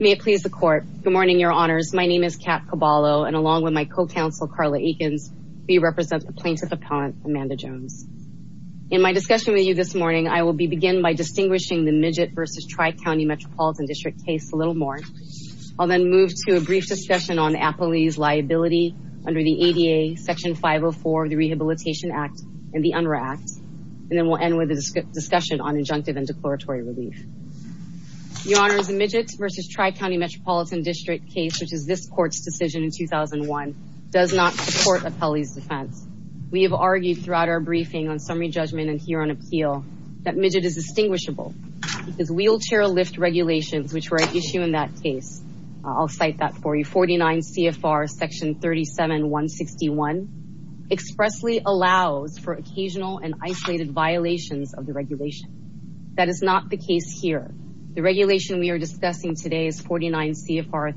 May it please the court. Good morning, your honors. My name is Kat Caballo, and along with my co-counsel, Carla Eakins, we represent the plaintiff appellant, Amanda Jones. In my discussion with you this morning, I will begin by distinguishing the Midget v. Tri-County Metropolitan District case a little more. I'll then move to a brief discussion on Appley's liability under the ADA Section 504 of the Rehabilitation Act and the UNRRA Act. And then we'll end with a discussion on injunctive and declaratory relief. Your honors, the Midget v. Tri-County Metropolitan District case, which is this court's decision in 2001, does not support Appley's defense. We have argued throughout our briefing on summary judgment and here on appeal that Midget is distinguishable because wheelchair lift regulations, which were at issue in that case, I'll cite that for you, 49 CFR Section 37161, expressly allows for occasional and isolated violations of the regulation. That is not the case here. The regulation we are discussing today is 49 CFR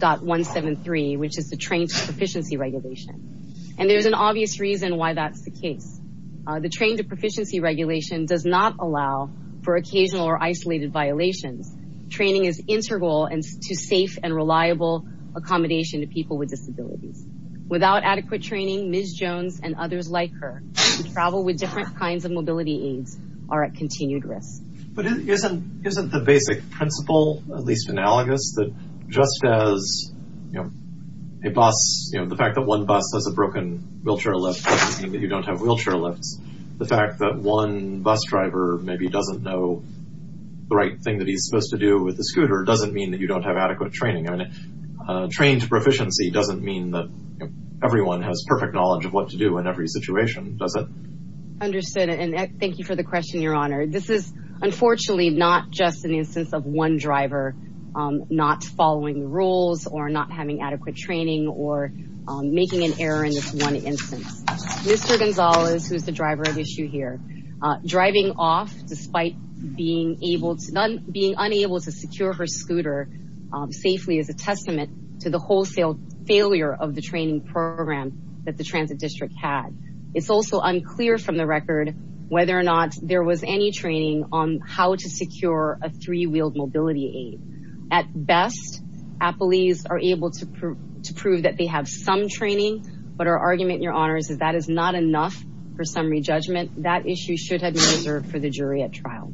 37.173, which is the trained to proficiency regulation. And there's an obvious reason why that's the case. The trained to proficiency regulation does not allow for occasional or isolated violations. Training is integral to safe and reliable accommodation to people with disabilities. Without adequate training, Ms. Jones and others like her who travel with different kinds of mobility aids are at continued risk. But isn't the basic principle at least analogous that just as a bus, the fact that one bus has a broken wheelchair lift doesn't mean that you don't have wheelchair lifts. The fact that one bus driver maybe doesn't know the right thing that he's supposed to do with the scooter doesn't mean that you don't have adequate training. Trained proficiency doesn't mean that everyone has perfect knowledge of what to do in every situation, does it? Understood. And thank you for the question, Your Honor. This is unfortunately not just an instance of one driver not following the rules or not having adequate training or making an error in this one instance. Mr. Gonzalez, who is the driver of issue here, driving off despite being unable to secure her scooter safely is a testament to the wholesale failure of the training program that the Transit District had. It's also unclear from the record whether or not there was any training on how to secure a three-wheeled mobility aid. At best, appellees are able to prove that they have some training, but our argument, Your Honor, is that that is not enough for summary judgment. That issue should have been reserved for the jury at trial.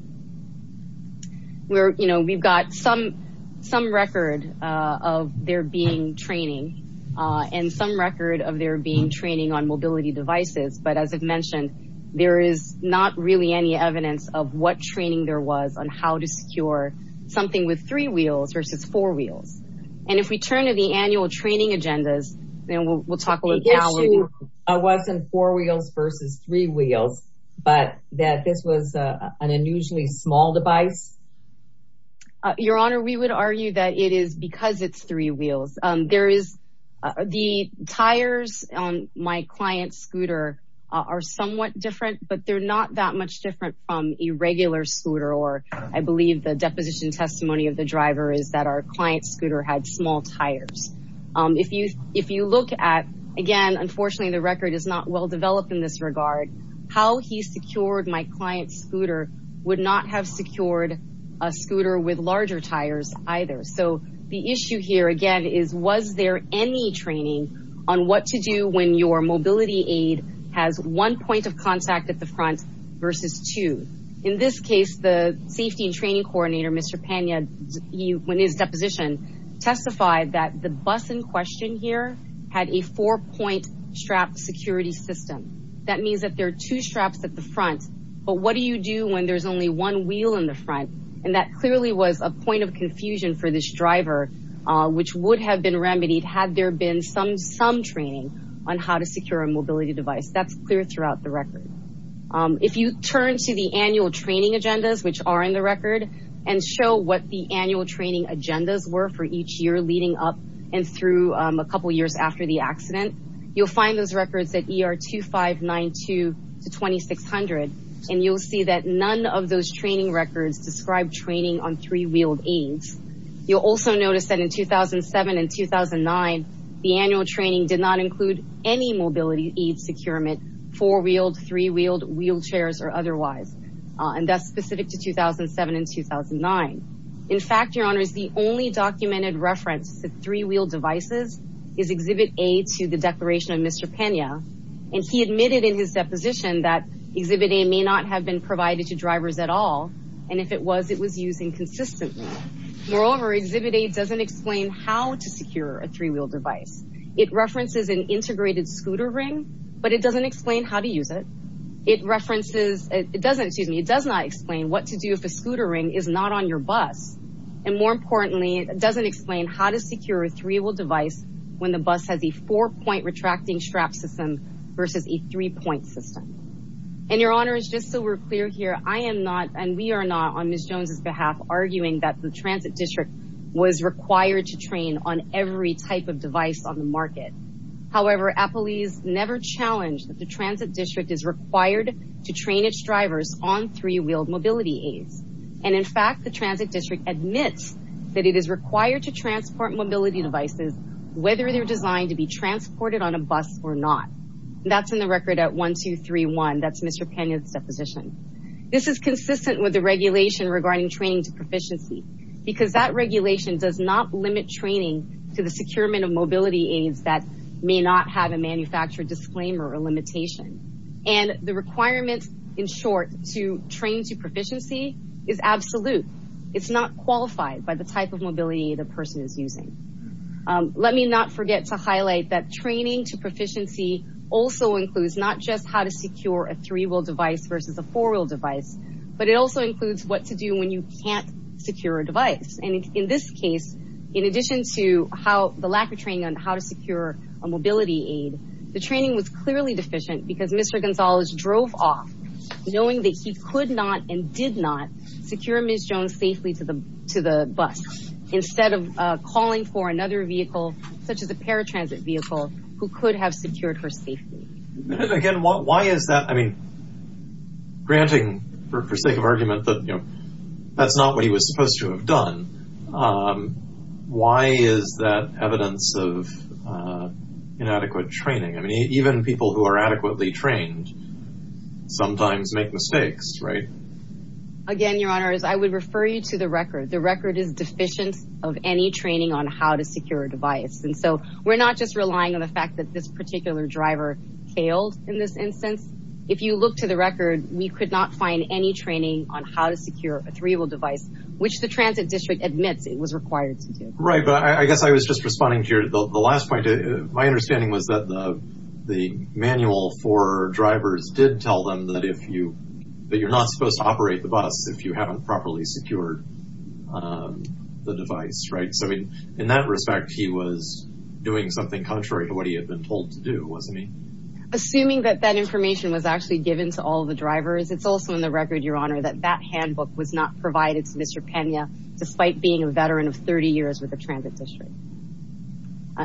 We've got some record of there being training and some record of there being training on mobility devices. But as I've mentioned, there is not really any evidence of what training there was on how to secure something with three wheels versus four wheels. And if we turn to the annual training agendas, then we'll talk about how it wasn't four wheels versus three wheels, but that this was an unusually small device. Your Honor, we would argue that it is because it's three wheels. The tires on my client's scooter are somewhat different, but they're not that much different from a regular scooter, or I believe the deposition testimony of the driver is that our client's scooter had small tires. If you look at, again, unfortunately the record is not well developed in this regard, how he secured my client's scooter would not have secured a scooter with larger tires either. So the issue here, again, is was there any training on what to do when your mobility aid has one point of contact at the front versus two? In this case, the safety and training coordinator, Mr. Pena, in his deposition, testified that the bus in question here had a four-point strap security system. That means that there are two straps at the front, but what do you do when there's only one wheel in the front? And that clearly was a point of confusion for this driver, which would have been remedied had there been some training on how to secure a mobility device. That's clear throughout the record. If you turn to the annual training agendas, which are in the record, and show what the annual training agendas were for each year leading up and through a couple years after the accident, you'll find those records at ER 2592 to 2600. And you'll see that none of those training records describe training on three-wheeled aids. You'll also notice that in 2007 and 2009, the annual training did not include any mobility aid securement, four-wheeled, three-wheeled, wheelchairs, or otherwise. And that's specific to 2007 and 2009. In fact, Your Honors, the only documented reference to three-wheeled devices is Exhibit A to the declaration of Mr. Pena. And he admitted in his deposition that Exhibit A may not have been provided to drivers at all, and if it was, it was used inconsistently. Moreover, Exhibit A doesn't explain how to secure a three-wheeled device. It references an integrated scooter ring, but it doesn't explain how to use it. It doesn't, excuse me, it does not explain what to do if a scooter ring is not on your bus. And more importantly, it doesn't explain how to secure a three-wheeled device when the bus has a four-point retracting strap system versus a three-point system. And Your Honors, just so we're clear here, I am not, and we are not, on Ms. Jones' behalf, arguing that the Transit District was required to train on every type of device on the market. However, Applebee's never challenged that the Transit District is required to train its drivers on three-wheeled mobility aids. And in fact, the Transit District admits that it is required to transport mobility devices whether they're designed to be transported on a bus or not. That's in the record at 1-2-3-1. That's Mr. Pena's deposition. This is consistent with the regulation regarding training to proficiency. Because that regulation does not limit training to the securement of mobility aids that may not have a manufacturer disclaimer or limitation. And the requirement, in short, to train to proficiency is absolute. It's not qualified by the type of mobility aid a person is using. Let me not forget to highlight that training to proficiency also includes not just how to secure a three-wheel device versus a four-wheel device, but it also includes what to do when you can't secure a device. And in this case, in addition to the lack of training on how to secure a mobility aid, the training was clearly deficient because Mr. Gonzalez drove off knowing that he could not and did not secure Ms. Jones safely to the bus. Instead of calling for another vehicle, such as a paratransit vehicle, who could have secured her safely. And again, why is that? I mean, granting, for sake of argument, that that's not what he was supposed to have done, why is that evidence of inadequate training? I mean, even people who are adequately trained sometimes make mistakes, right? Again, Your Honor, I would refer you to the record. The record is deficient of any training on how to secure a device. And so we're not just relying on the fact that this particular driver failed in this instance. If you look to the record, we could not find any training on how to secure a three-wheel device, which the transit district admits it was required to do. Right, but I guess I was just responding to your last point. My understanding was that the manual for drivers did tell them that you're not supposed to operate the bus if you haven't properly secured the device, right? So in that respect, he was doing something contrary to what he had been told to do, wasn't he? Assuming that that information was actually given to all the drivers, it's also in the record, Your Honor, that that handbook was not provided to Mr. Pena, despite being a veteran of 30 years with the transit district.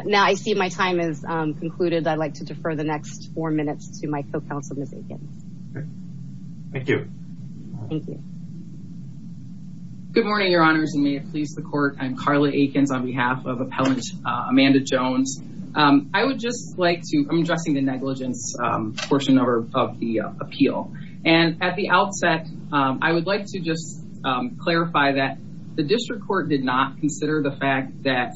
Now I see my time is concluded. I'd like to defer the next four minutes to my co-counsel, Ms. Aikens. Thank you. Thank you. Good morning, Your Honors, and may it please the Court. I'm Carla Aikens on behalf of Appellant Amanda Jones. I would just like to—I'm addressing the negligence portion of the appeal. And at the outset, I would like to just clarify that the district court did not consider the fact that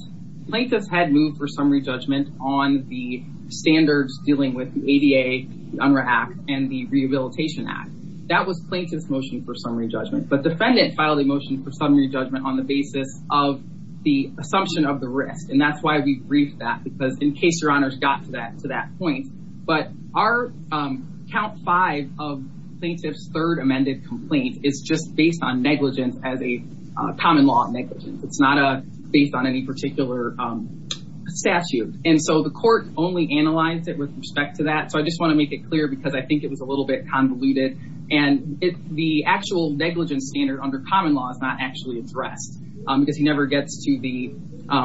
plaintiffs had moved for summary judgment on the standards dealing with the ADA, the UNRRA Act, and the Rehabilitation Act. That was plaintiff's motion for summary judgment. But defendant filed a motion for summary judgment on the basis of the assumption of the risk, and that's why we briefed that, because in case Your Honors got to that point. But our count five of plaintiff's third amended complaint is just based on negligence as a common law negligence. It's not based on any particular statute. And so the court only analyzed it with respect to that. So I just want to make it clear, because I think it was a little bit convoluted. And the actual negligence standard under common law is not actually addressed, because he never gets to the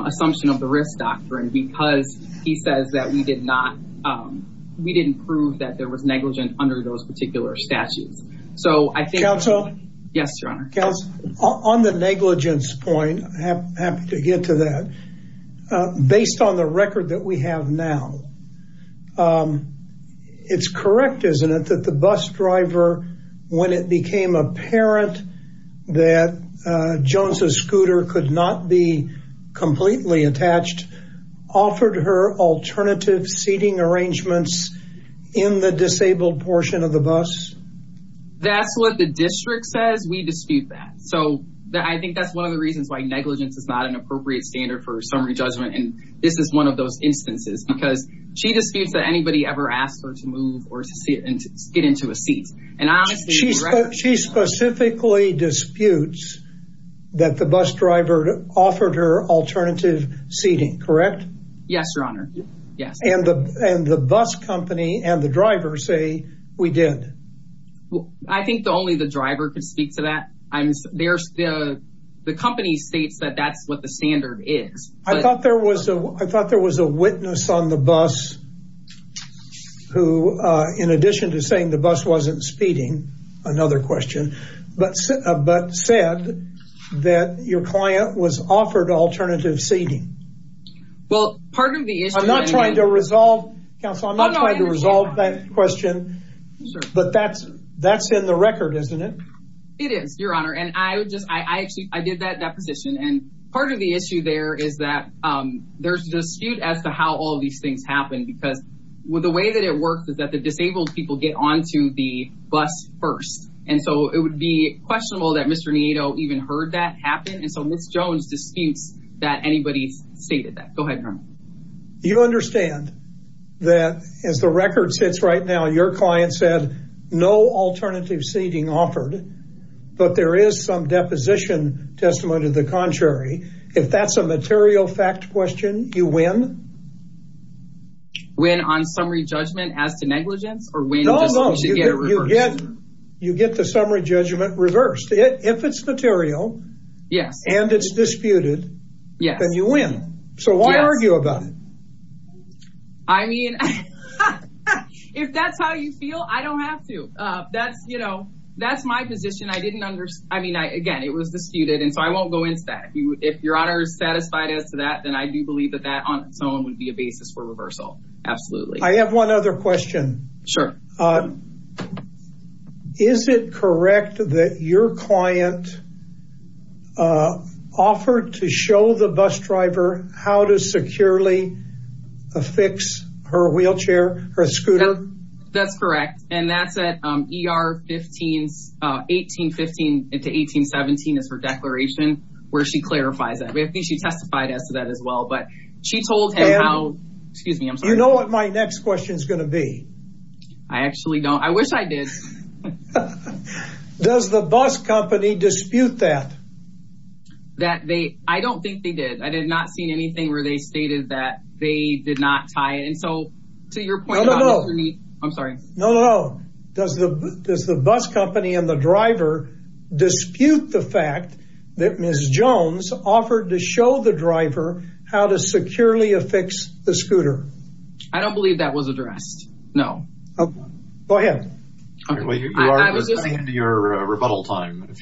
assumption of the risk doctrine, because he says that we did not—we didn't prove that there was negligence under those particular statutes. So I think— Counsel? Yes, Your Honor. Counsel, on the negligence point, I'm happy to get to that. But based on the record that we have now, it's correct, isn't it, that the bus driver, when it became apparent that Jones's scooter could not be completely attached, offered her alternative seating arrangements in the disabled portion of the bus? That's what the district says. We dispute that. So I think that's one of the reasons why negligence is not an appropriate standard for summary judgment. And this is one of those instances, because she disputes that anybody ever asked her to move or to get into a seat. And I honestly— She specifically disputes that the bus driver offered her alternative seating, correct? Yes, Your Honor. Yes. And the bus company and the driver say, we did. I think only the driver could speak to that. The company states that that's what the standard is. I thought there was a witness on the bus who, in addition to saying the bus wasn't speeding, another question, but said that your client was offered alternative seating. Well, part of the issue— I'm not trying to resolve—Counsel, I'm not trying to resolve that question. But that's in the record, isn't it? It is, Your Honor. And I did that deposition. And part of the issue there is that there's a dispute as to how all of these things happened, because the way that it works is that the disabled people get onto the bus first. And so it would be questionable that Mr. Nieto even heard that happen. And so Ms. Jones disputes that anybody stated that. Go ahead, Colonel. You understand that, as the record states right now, your client said no alternative seating offered, but there is some deposition testimony to the contrary. If that's a material fact question, you win? Win on summary judgment as to negligence? No, no, you get the summary judgment reversed. If it's material and it's disputed, then you win. So why argue about it? I mean, if that's how you feel, I don't have to. That's my position. I mean, again, it was disputed, and so I won't go into that. If Your Honor is satisfied as to that, then I do believe that that on its own would be a basis for reversal. Absolutely. I have one other question. Sure. Is it correct that your client offered to show the bus driver how to securely affix her wheelchair, her scooter? That's correct. And that's at ER 1815 to 1817 is her declaration where she clarifies that. I think she testified as to that as well. But she told him how – excuse me, I'm sorry. You know what my next question is going to be? I actually don't. I wish I did. Does the bus company dispute that? That they – I don't think they did. I have not seen anything where they stated that they did not tie it. And so to your point about – No, no, no. I'm sorry. No, no, no. Does the bus company and the driver dispute the fact that Ms. Jones offered to show the driver how to securely affix the scooter? I don't believe that was addressed. No. Go ahead. I was listening to your rebuttal time.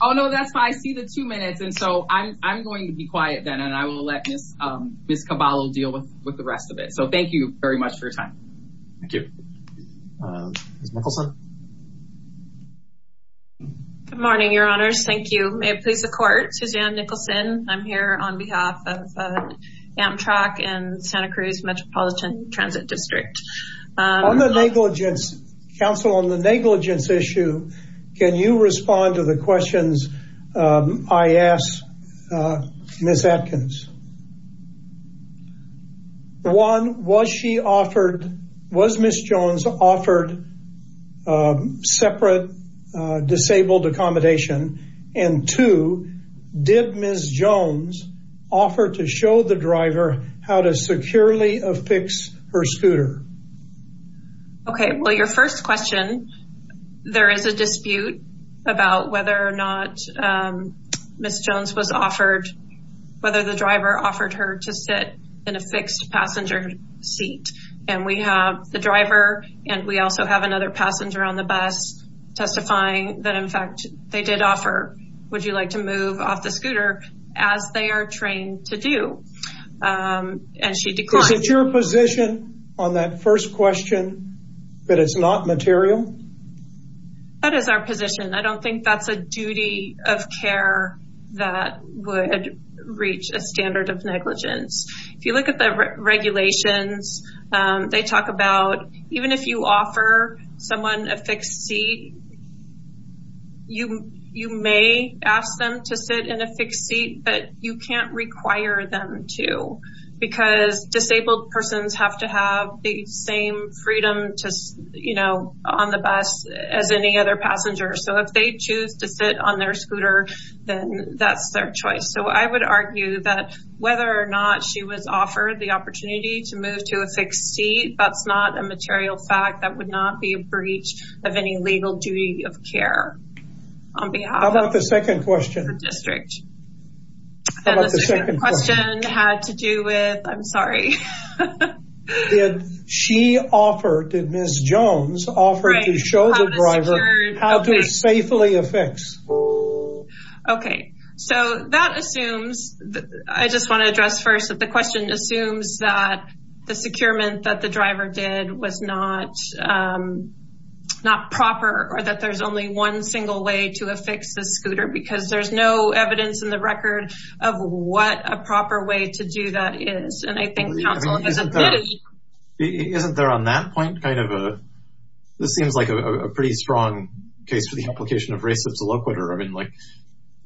Oh, no, that's fine. I see the two minutes. And so I'm going to be quiet then and I will let Ms. Caballo deal with the rest of it. So thank you very much for your time. Thank you. Ms. Nicholson. Good morning, Your Honors. Thank you. May it please the Court. Suzanne Nicholson. I'm here on behalf of Amtrak and Santa Cruz Metropolitan Transit District. On the negligence – counsel, on the negligence issue, can you respond to the questions I asked Ms. Atkins? One, was she offered – was Ms. Jones offered separate disabled accommodation? And two, did Ms. Jones offer to show the driver how to securely affix her scooter? Okay. Well, your first question, there is a dispute about whether or not Ms. Jones was offered – whether the driver offered her to sit in a fixed passenger seat. And we have the driver and we also have another passenger on the bus testifying that, in fact, they did offer, would you like to move off the scooter as they are trained to do? And she declined. Is it your position on that first question that it's not material? That is our position. I don't think that's a duty of care that would reach a standard of negligence. If you look at the regulations, they talk about even if you offer someone a fixed seat, you may ask them to sit in a fixed seat, but you can't require them to because disabled persons have to have the same freedom to, you know, on the bus as any other passenger. So if they choose to sit on their scooter, then that's their choice. So I would argue that whether or not she was offered the opportunity to move to a fixed seat, that's not a material fact that would not be a breach of any legal duty of care on behalf of the district. How about the second question? The second question had to do with – I'm sorry. Did she offer – did Ms. Jones offer to show the driver how to safely affix? Okay. So that assumes – I just want to address first that the question assumes that the securement that the driver did was not proper or that there's only one single way to affix the scooter because there's no evidence in the record of what a proper way to do that is. And I think counsel has admitted – Isn't there on that point kind of a – I mean, like,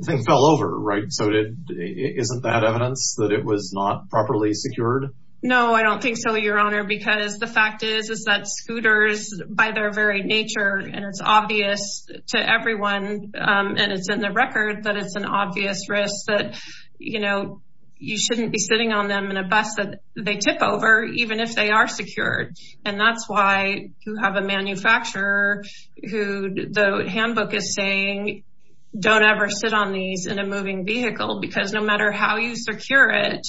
things fell over, right? So isn't that evidence that it was not properly secured? No, I don't think so, Your Honor, because the fact is is that scooters, by their very nature, and it's obvious to everyone and it's in the record that it's an obvious risk that, you know, you shouldn't be sitting on them in a bus that they tip over even if they are secured. And that's why you have a manufacturer who the handbook is saying don't ever sit on these in a moving vehicle because no matter how you secure it,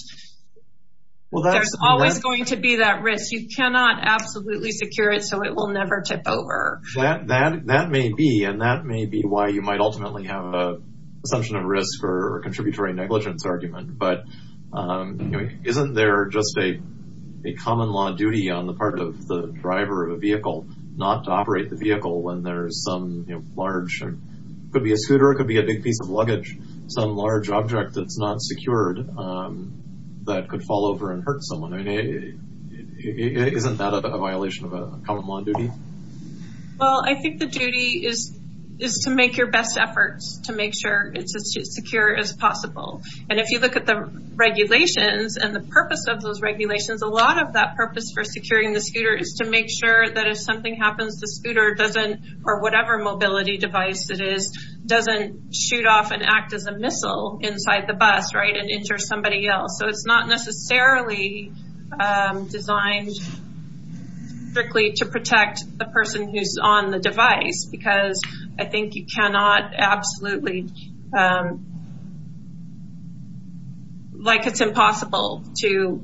there's always going to be that risk. You cannot absolutely secure it so it will never tip over. That may be, and that may be why you might ultimately have an assumption of risk or a contributory negligence argument. But isn't there just a common law duty on the part of the driver of a vehicle not to operate the vehicle when there's some large – it could be a scooter, it could be a big piece of luggage, some large object that's not secured that could fall over and hurt someone. I mean, isn't that a violation of a common law duty? Well, I think the duty is to make your best efforts to make sure it's as secure as possible. And if you look at the regulations and the purpose of those regulations, a lot of that purpose for securing the scooter is to make sure that if something happens, the scooter doesn't, or whatever mobility device it is, doesn't shoot off and act as a missile inside the bus, right, and injure somebody else. So it's not necessarily designed strictly to protect the person who's on the device because I think you cannot absolutely – like it's impossible to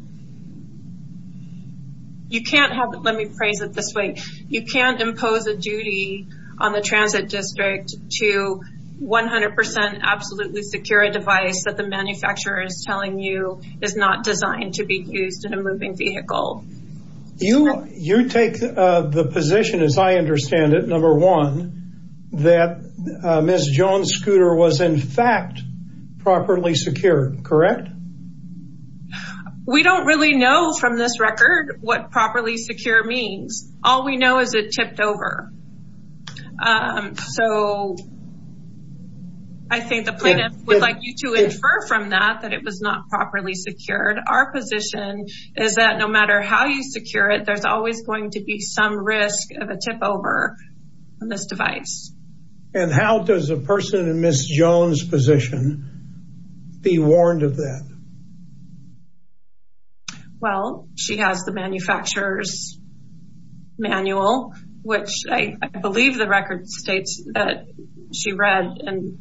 – you can't have – let me phrase it this way. You can't impose a duty on the transit district to 100% absolutely secure a device that the manufacturer is telling you is not designed to be used in a moving vehicle. You take the position, as I understand it, number one, that Ms. Jones' scooter was in fact properly secured, correct? We don't really know from this record what properly secure means. All we know is it tipped over. So I think the plaintiff would like you to infer from that that it was not properly secured. Our position is that no matter how you secure it, there's always going to be some risk of a tip over on this device. And how does a person in Ms. Jones' position be warned of that? Well, she has the manufacturer's manual, which I believe the record states that she read, and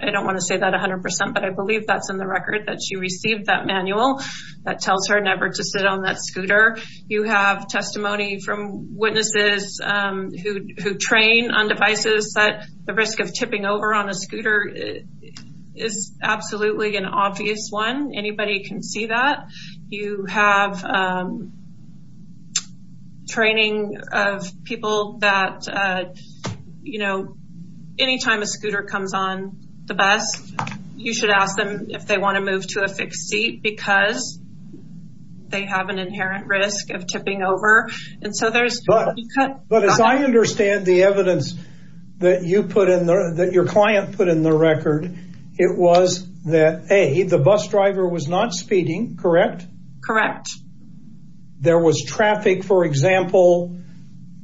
I don't want to say that 100%, but I believe that's in the record that she received that manual that tells her never to sit on that scooter. You have testimony from witnesses who train on devices that the risk of tipping over on a scooter is absolutely an obvious one. Anybody can see that. You have training of people that, you know, anytime a scooter comes on the bus, you should ask them if they want to move to a fixed seat because they have an inherent risk of tipping over. But as I understand the evidence that your client put in the record, it was that, A, the bus driver was not speeding, correct? Correct. There was traffic, for example,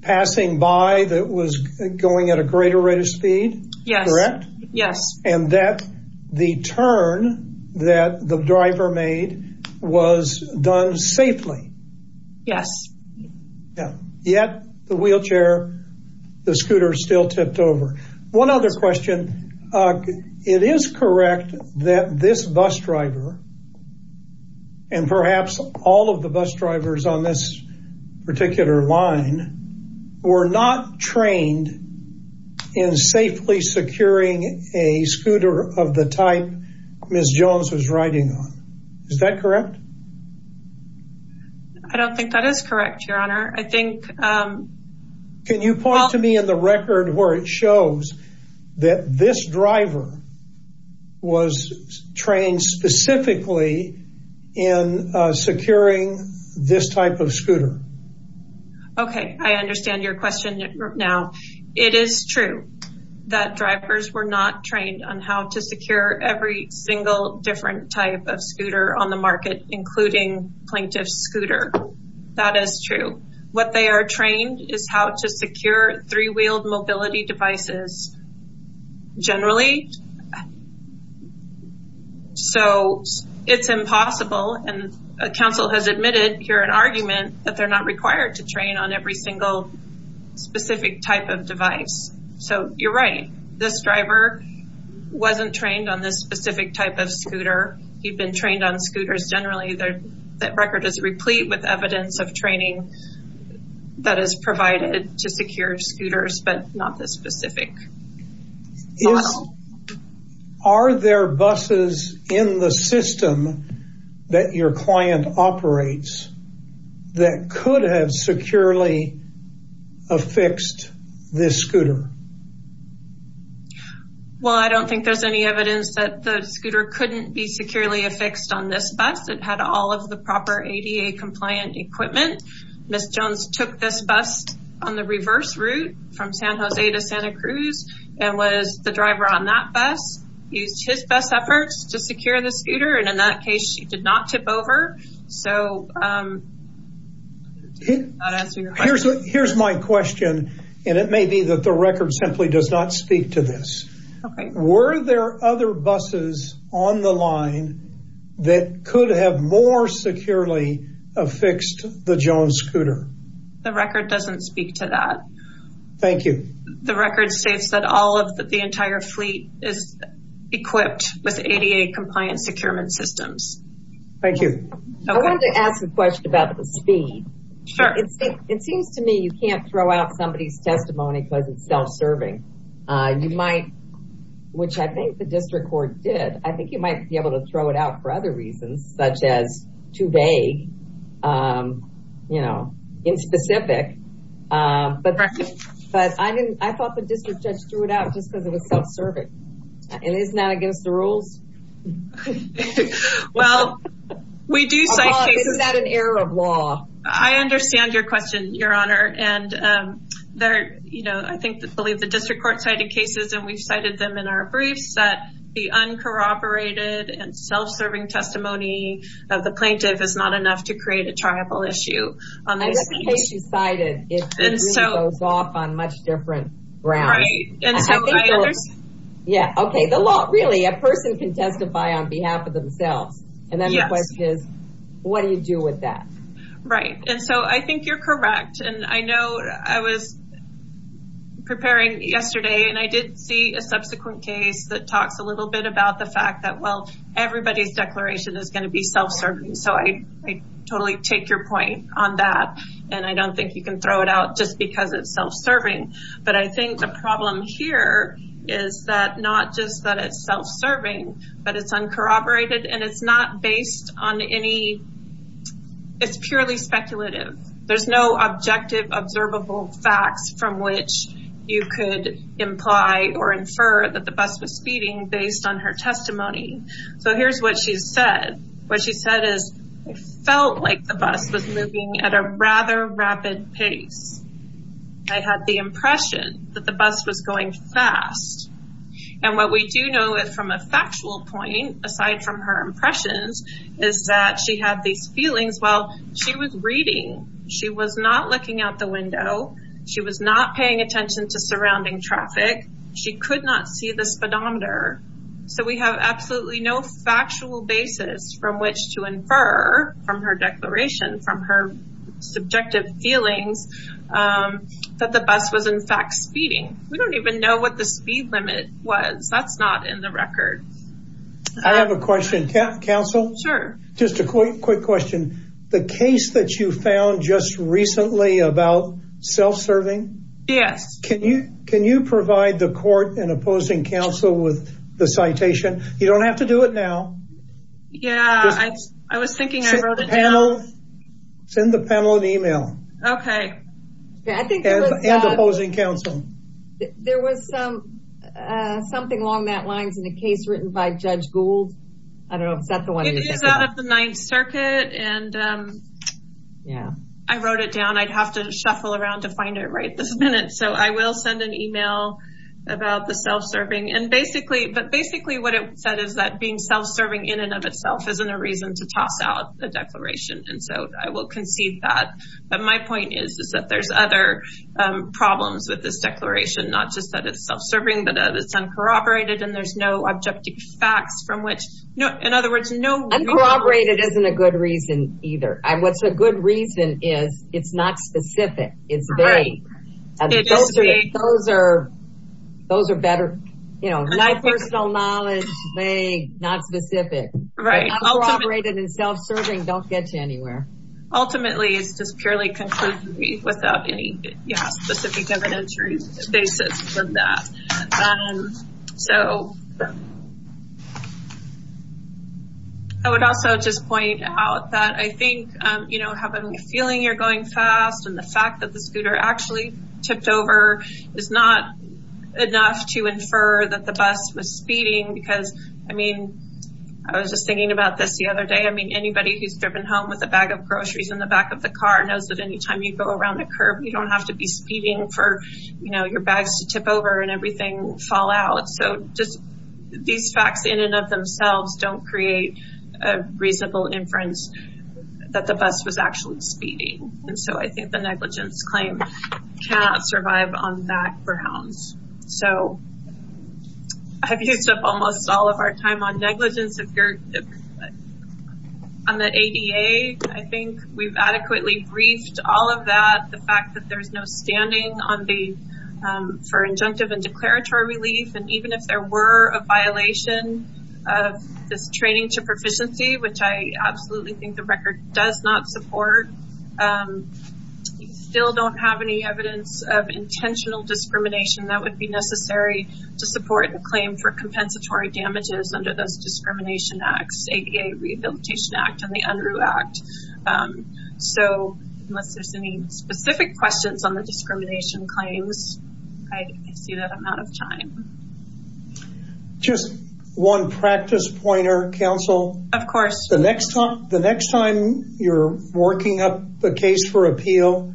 passing by that was going at a greater rate of speed? Yes. Correct? Yes. And that the turn that the driver made was done safely? Yes. Yet the wheelchair, the scooter still tipped over. One other question. It is correct that this bus driver, and perhaps all of the bus drivers on this particular line, were not trained in safely securing a scooter of the type Ms. Jones was riding on. Is that correct? I don't think that is correct, Your Honor. Can you point to me in the record where it shows that this driver was trained specifically in securing this type of scooter? Okay. I understand your question now. It is true that drivers were not trained on how to secure every single different type of scooter on the market, including plaintiff's scooter. That is true. What they are trained is how to secure three-wheeled mobility devices generally. So it's impossible, and counsel has admitted here an argument, that they're not required to train on every single specific type of device. So you're right. This driver wasn't trained on this specific type of scooter. He'd been trained on scooters generally. That record is replete with evidence of training that is provided to secure scooters, but not this specific model. Are there buses in the system that your client operates that could have securely affixed this scooter? Well, I don't think there's any evidence that the scooter couldn't be securely affixed on this bus. It had all of the proper ADA-compliant equipment. Ms. Jones took this bus on the reverse route from San Jose to Santa Cruz and was the driver on that bus, used his best efforts to secure the scooter, and in that case, she did not tip over. So I'm not answering your question. Here's my question, and it may be that the record simply does not speak to this. Were there other buses on the line that could have more securely affixed the Jones scooter? The record doesn't speak to that. Thank you. The record states that all of the entire fleet is equipped with ADA-compliant securement systems. Thank you. I wanted to ask a question about the speed. It seems to me you can't throw out somebody's testimony because it's self-serving. You might, which I think the district court did, I think you might be able to throw it out for other reasons, such as too vague, you know, inspecific. But I thought the district judge threw it out just because it was self-serving. And isn't that against the rules? Well, we do cite cases. Isn't that an error of law? I understand your question, Your Honor. And, you know, I believe the district court cited cases, and we've cited them in our briefs, that the uncorroborated and self-serving testimony of the plaintiff is not enough to create a tribal issue. I guess the case you cited, it really goes off on much different grounds. Right. Yeah, okay. Really, a person can testify on behalf of themselves. And then the question is, what do you do with that? Right. And so I think you're correct, and I know I was preparing yesterday, and I did see a subsequent case that talks a little bit about the fact that, well, everybody's declaration is going to be self-serving. So I totally take your point on that, and I don't think you can throw it out just because it's self-serving. But I think the problem here is that not just that it's self-serving, but it's uncorroborated, and it's not based on any – it's purely speculative. There's no objective, observable facts from which you could imply or infer that the bus was speeding based on her testimony. So here's what she said. What she said is, I felt like the bus was moving at a rather rapid pace. I had the impression that the bus was going fast. And what we do know from a factual point, aside from her impressions, is that she had these feelings while she was reading. She was not looking out the window. She was not paying attention to surrounding traffic. She could not see the speedometer. So we have absolutely no factual basis from which to infer from her declaration, from her subjective feelings, that the bus was, in fact, speeding. We don't even know what the speed limit was. That's not in the record. I have a question. Counsel? Sure. Just a quick question. The case that you found just recently about self-serving? Yes. Can you provide the court and opposing counsel with the citation? You don't have to do it now. Yeah, I was thinking I wrote it down. Send the panel an email. Okay. And opposing counsel. There was something along that lines in a case written by Judge Gould. I don't know if that's the one. It is out of the Ninth Circuit. And I wrote it down. I'd have to shuffle around to find it right this minute. So I will send an email about the self-serving. But basically what it said is that being self-serving in and of itself isn't a reason to toss out a declaration. And so I will concede that. But my point is that there's other problems with this declaration, not just that it's self-serving, but that it's uncorroborated and there's no objective facts from which, in other words, no. Uncorroborated isn't a good reason either. What's a good reason is it's not specific. It's vague. Those are better, you know, not personal knowledge, vague, not specific. Right. Uncorroborated and self-serving don't get you anywhere. Ultimately it's just purely conclusive without any specific evidentiary basis for that. So I would also just point out that I think, you know, having a feeling you're going fast and the fact that the scooter actually tipped over is not enough to infer that the bus was speeding because, I mean, I was just thinking about this the other day. I mean, anybody who's driven home with a bag of groceries in the back of the car knows that any time you go around a curb you don't have to be speeding for, you know, your bags to tip over and everything fall out. So just these facts in and of themselves don't create a reasonable inference that the bus was actually speeding. And so I think the negligence claim cannot survive on that grounds. So I've used up almost all of our time on negligence. On the ADA I think we've adequately briefed all of that, the fact that there's no standing for injunctive and declaratory relief, and even if there were a violation of this training to proficiency, which I absolutely think the record does not support, we still don't have any evidence of intentional discrimination that would be necessary to support a claim for compensatory damages under those discrimination acts, ADA Rehabilitation Act and the UNRU Act. So unless there's any specific questions on the discrimination claims, I see that I'm out of time. Just one practice pointer, counsel. Of course. The next time you're working up a case for appeal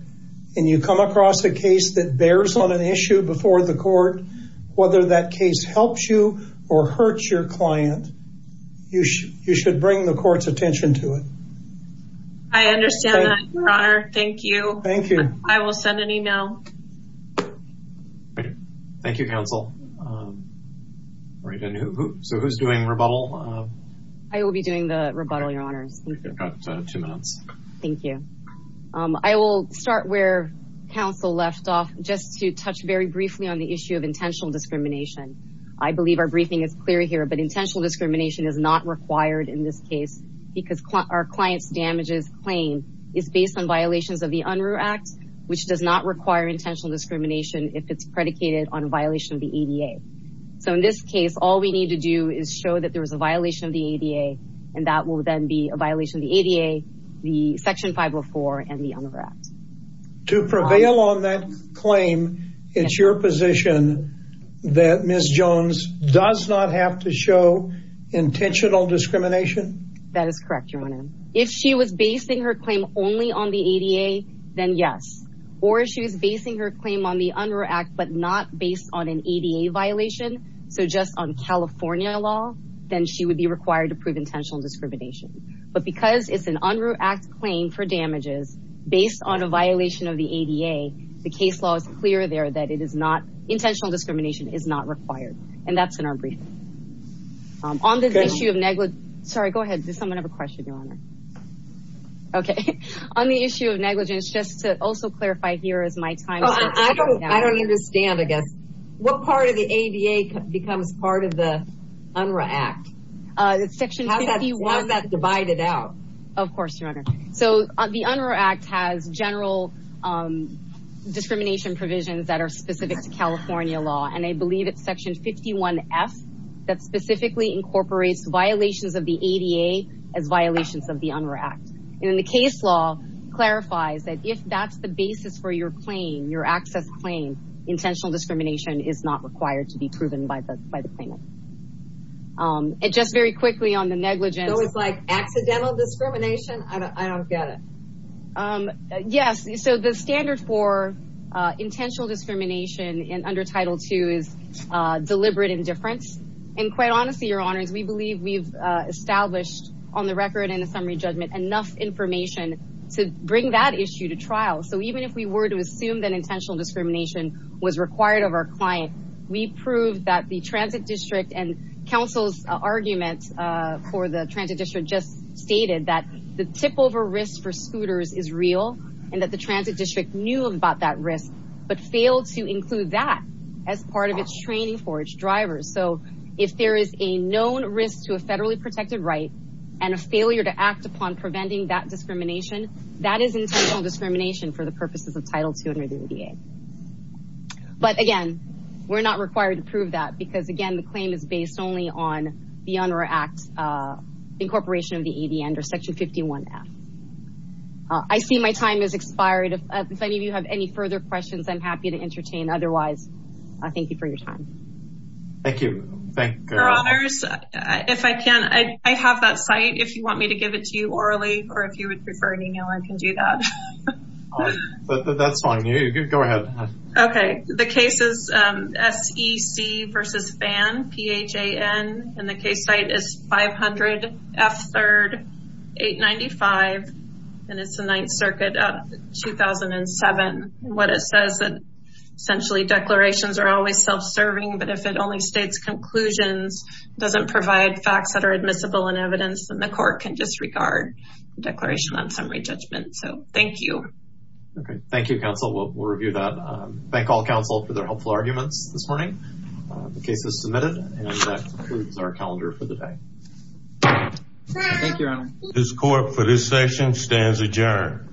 and you come across a case that bears on an issue before the court, whether that case helps you or hurts your client, you should bring the court's attention to it. I understand that, Your Honor. Thank you. Thank you. I will send an email. Thank you, counsel. So who's doing rebuttal? I will be doing the rebuttal, Your Honors. You've got two minutes. Thank you. I will start where counsel left off, just to touch very briefly on the issue of intentional discrimination. I believe our briefing is clear here, but intentional discrimination is not required in this case because our client's damages claim is based on violations of the UNRU Act, which does not require intentional discrimination if it's predicated on a violation of the ADA. So in this case, all we need to do is show that there was a violation of the ADA, and that will then be a violation of the ADA, the Section 504, and the UNRU Act. To prevail on that claim, it's your position that Ms. Jones does not have to show intentional discrimination? That is correct, Your Honor. If she was basing her claim only on the ADA, then yes. Or if she was basing her claim on the UNRU Act, but not based on an ADA violation, so just on California law, then she would be required to prove intentional discrimination. But because it's an UNRU Act claim for damages, based on a violation of the ADA, the case law is clear there that intentional discrimination is not required, and that's in our briefing. On this issue of negligence— Sorry, go ahead. Does someone have a question, Your Honor? Okay. On the issue of negligence, just to also clarify here is my time is up. I don't understand, I guess. What part of the ADA becomes part of the UNRU Act? How is that divided out? Of course, Your Honor. So the UNRU Act has general discrimination provisions that are specific to California law, and I believe it's Section 51F that specifically incorporates violations of the ADA as violations of the UNRU Act. And the case law clarifies that if that's the basis for your claim, your access claim, intentional discrimination is not required to be proven by the claimant. Just very quickly on the negligence— So it's like accidental discrimination? I don't get it. Yes. So the standard for intentional discrimination under Title II is deliberate indifference. And quite honestly, Your Honors, we believe we've established on the record in the summary judgment enough information to bring that issue to trial. So even if we were to assume that intentional discrimination was required of our client, we proved that the Transit District and Council's argument for the Transit District just stated that the tip-over risk for scooters is real and that the Transit District knew about that risk but failed to include that as part of its training for its drivers. So if there is a known risk to a federally protected right and a failure to act upon preventing that discrimination, that is intentional discrimination for the purposes of Title II under the ADA. But again, we're not required to prove that because, again, the claim is based only on the Honor Act incorporation of the ADA under Section 51F. I see my time has expired. If any of you have any further questions, I'm happy to entertain. Otherwise, thank you for your time. Thank you. Your Honors, if I can, I have that site. If you want me to give it to you orally or if you would prefer an email, I can do that. That's fine. Go ahead. Okay. The case is SEC v. Phan, P-H-A-N. And the case site is 500 F. 3rd, 895, and it's the Ninth Circuit of 2007. What it says is essentially declarations are always self-serving, but if it only states conclusions, doesn't provide facts that are admissible in evidence, then the court can disregard the Declaration on Summary Judgment. So thank you. Okay. Thank you, counsel. We'll review that. Thank all counsel for their helpful arguments this morning. The case is submitted, and that concludes our calendar for the day. Thank you, Your Honor. This court for this session stands adjourned.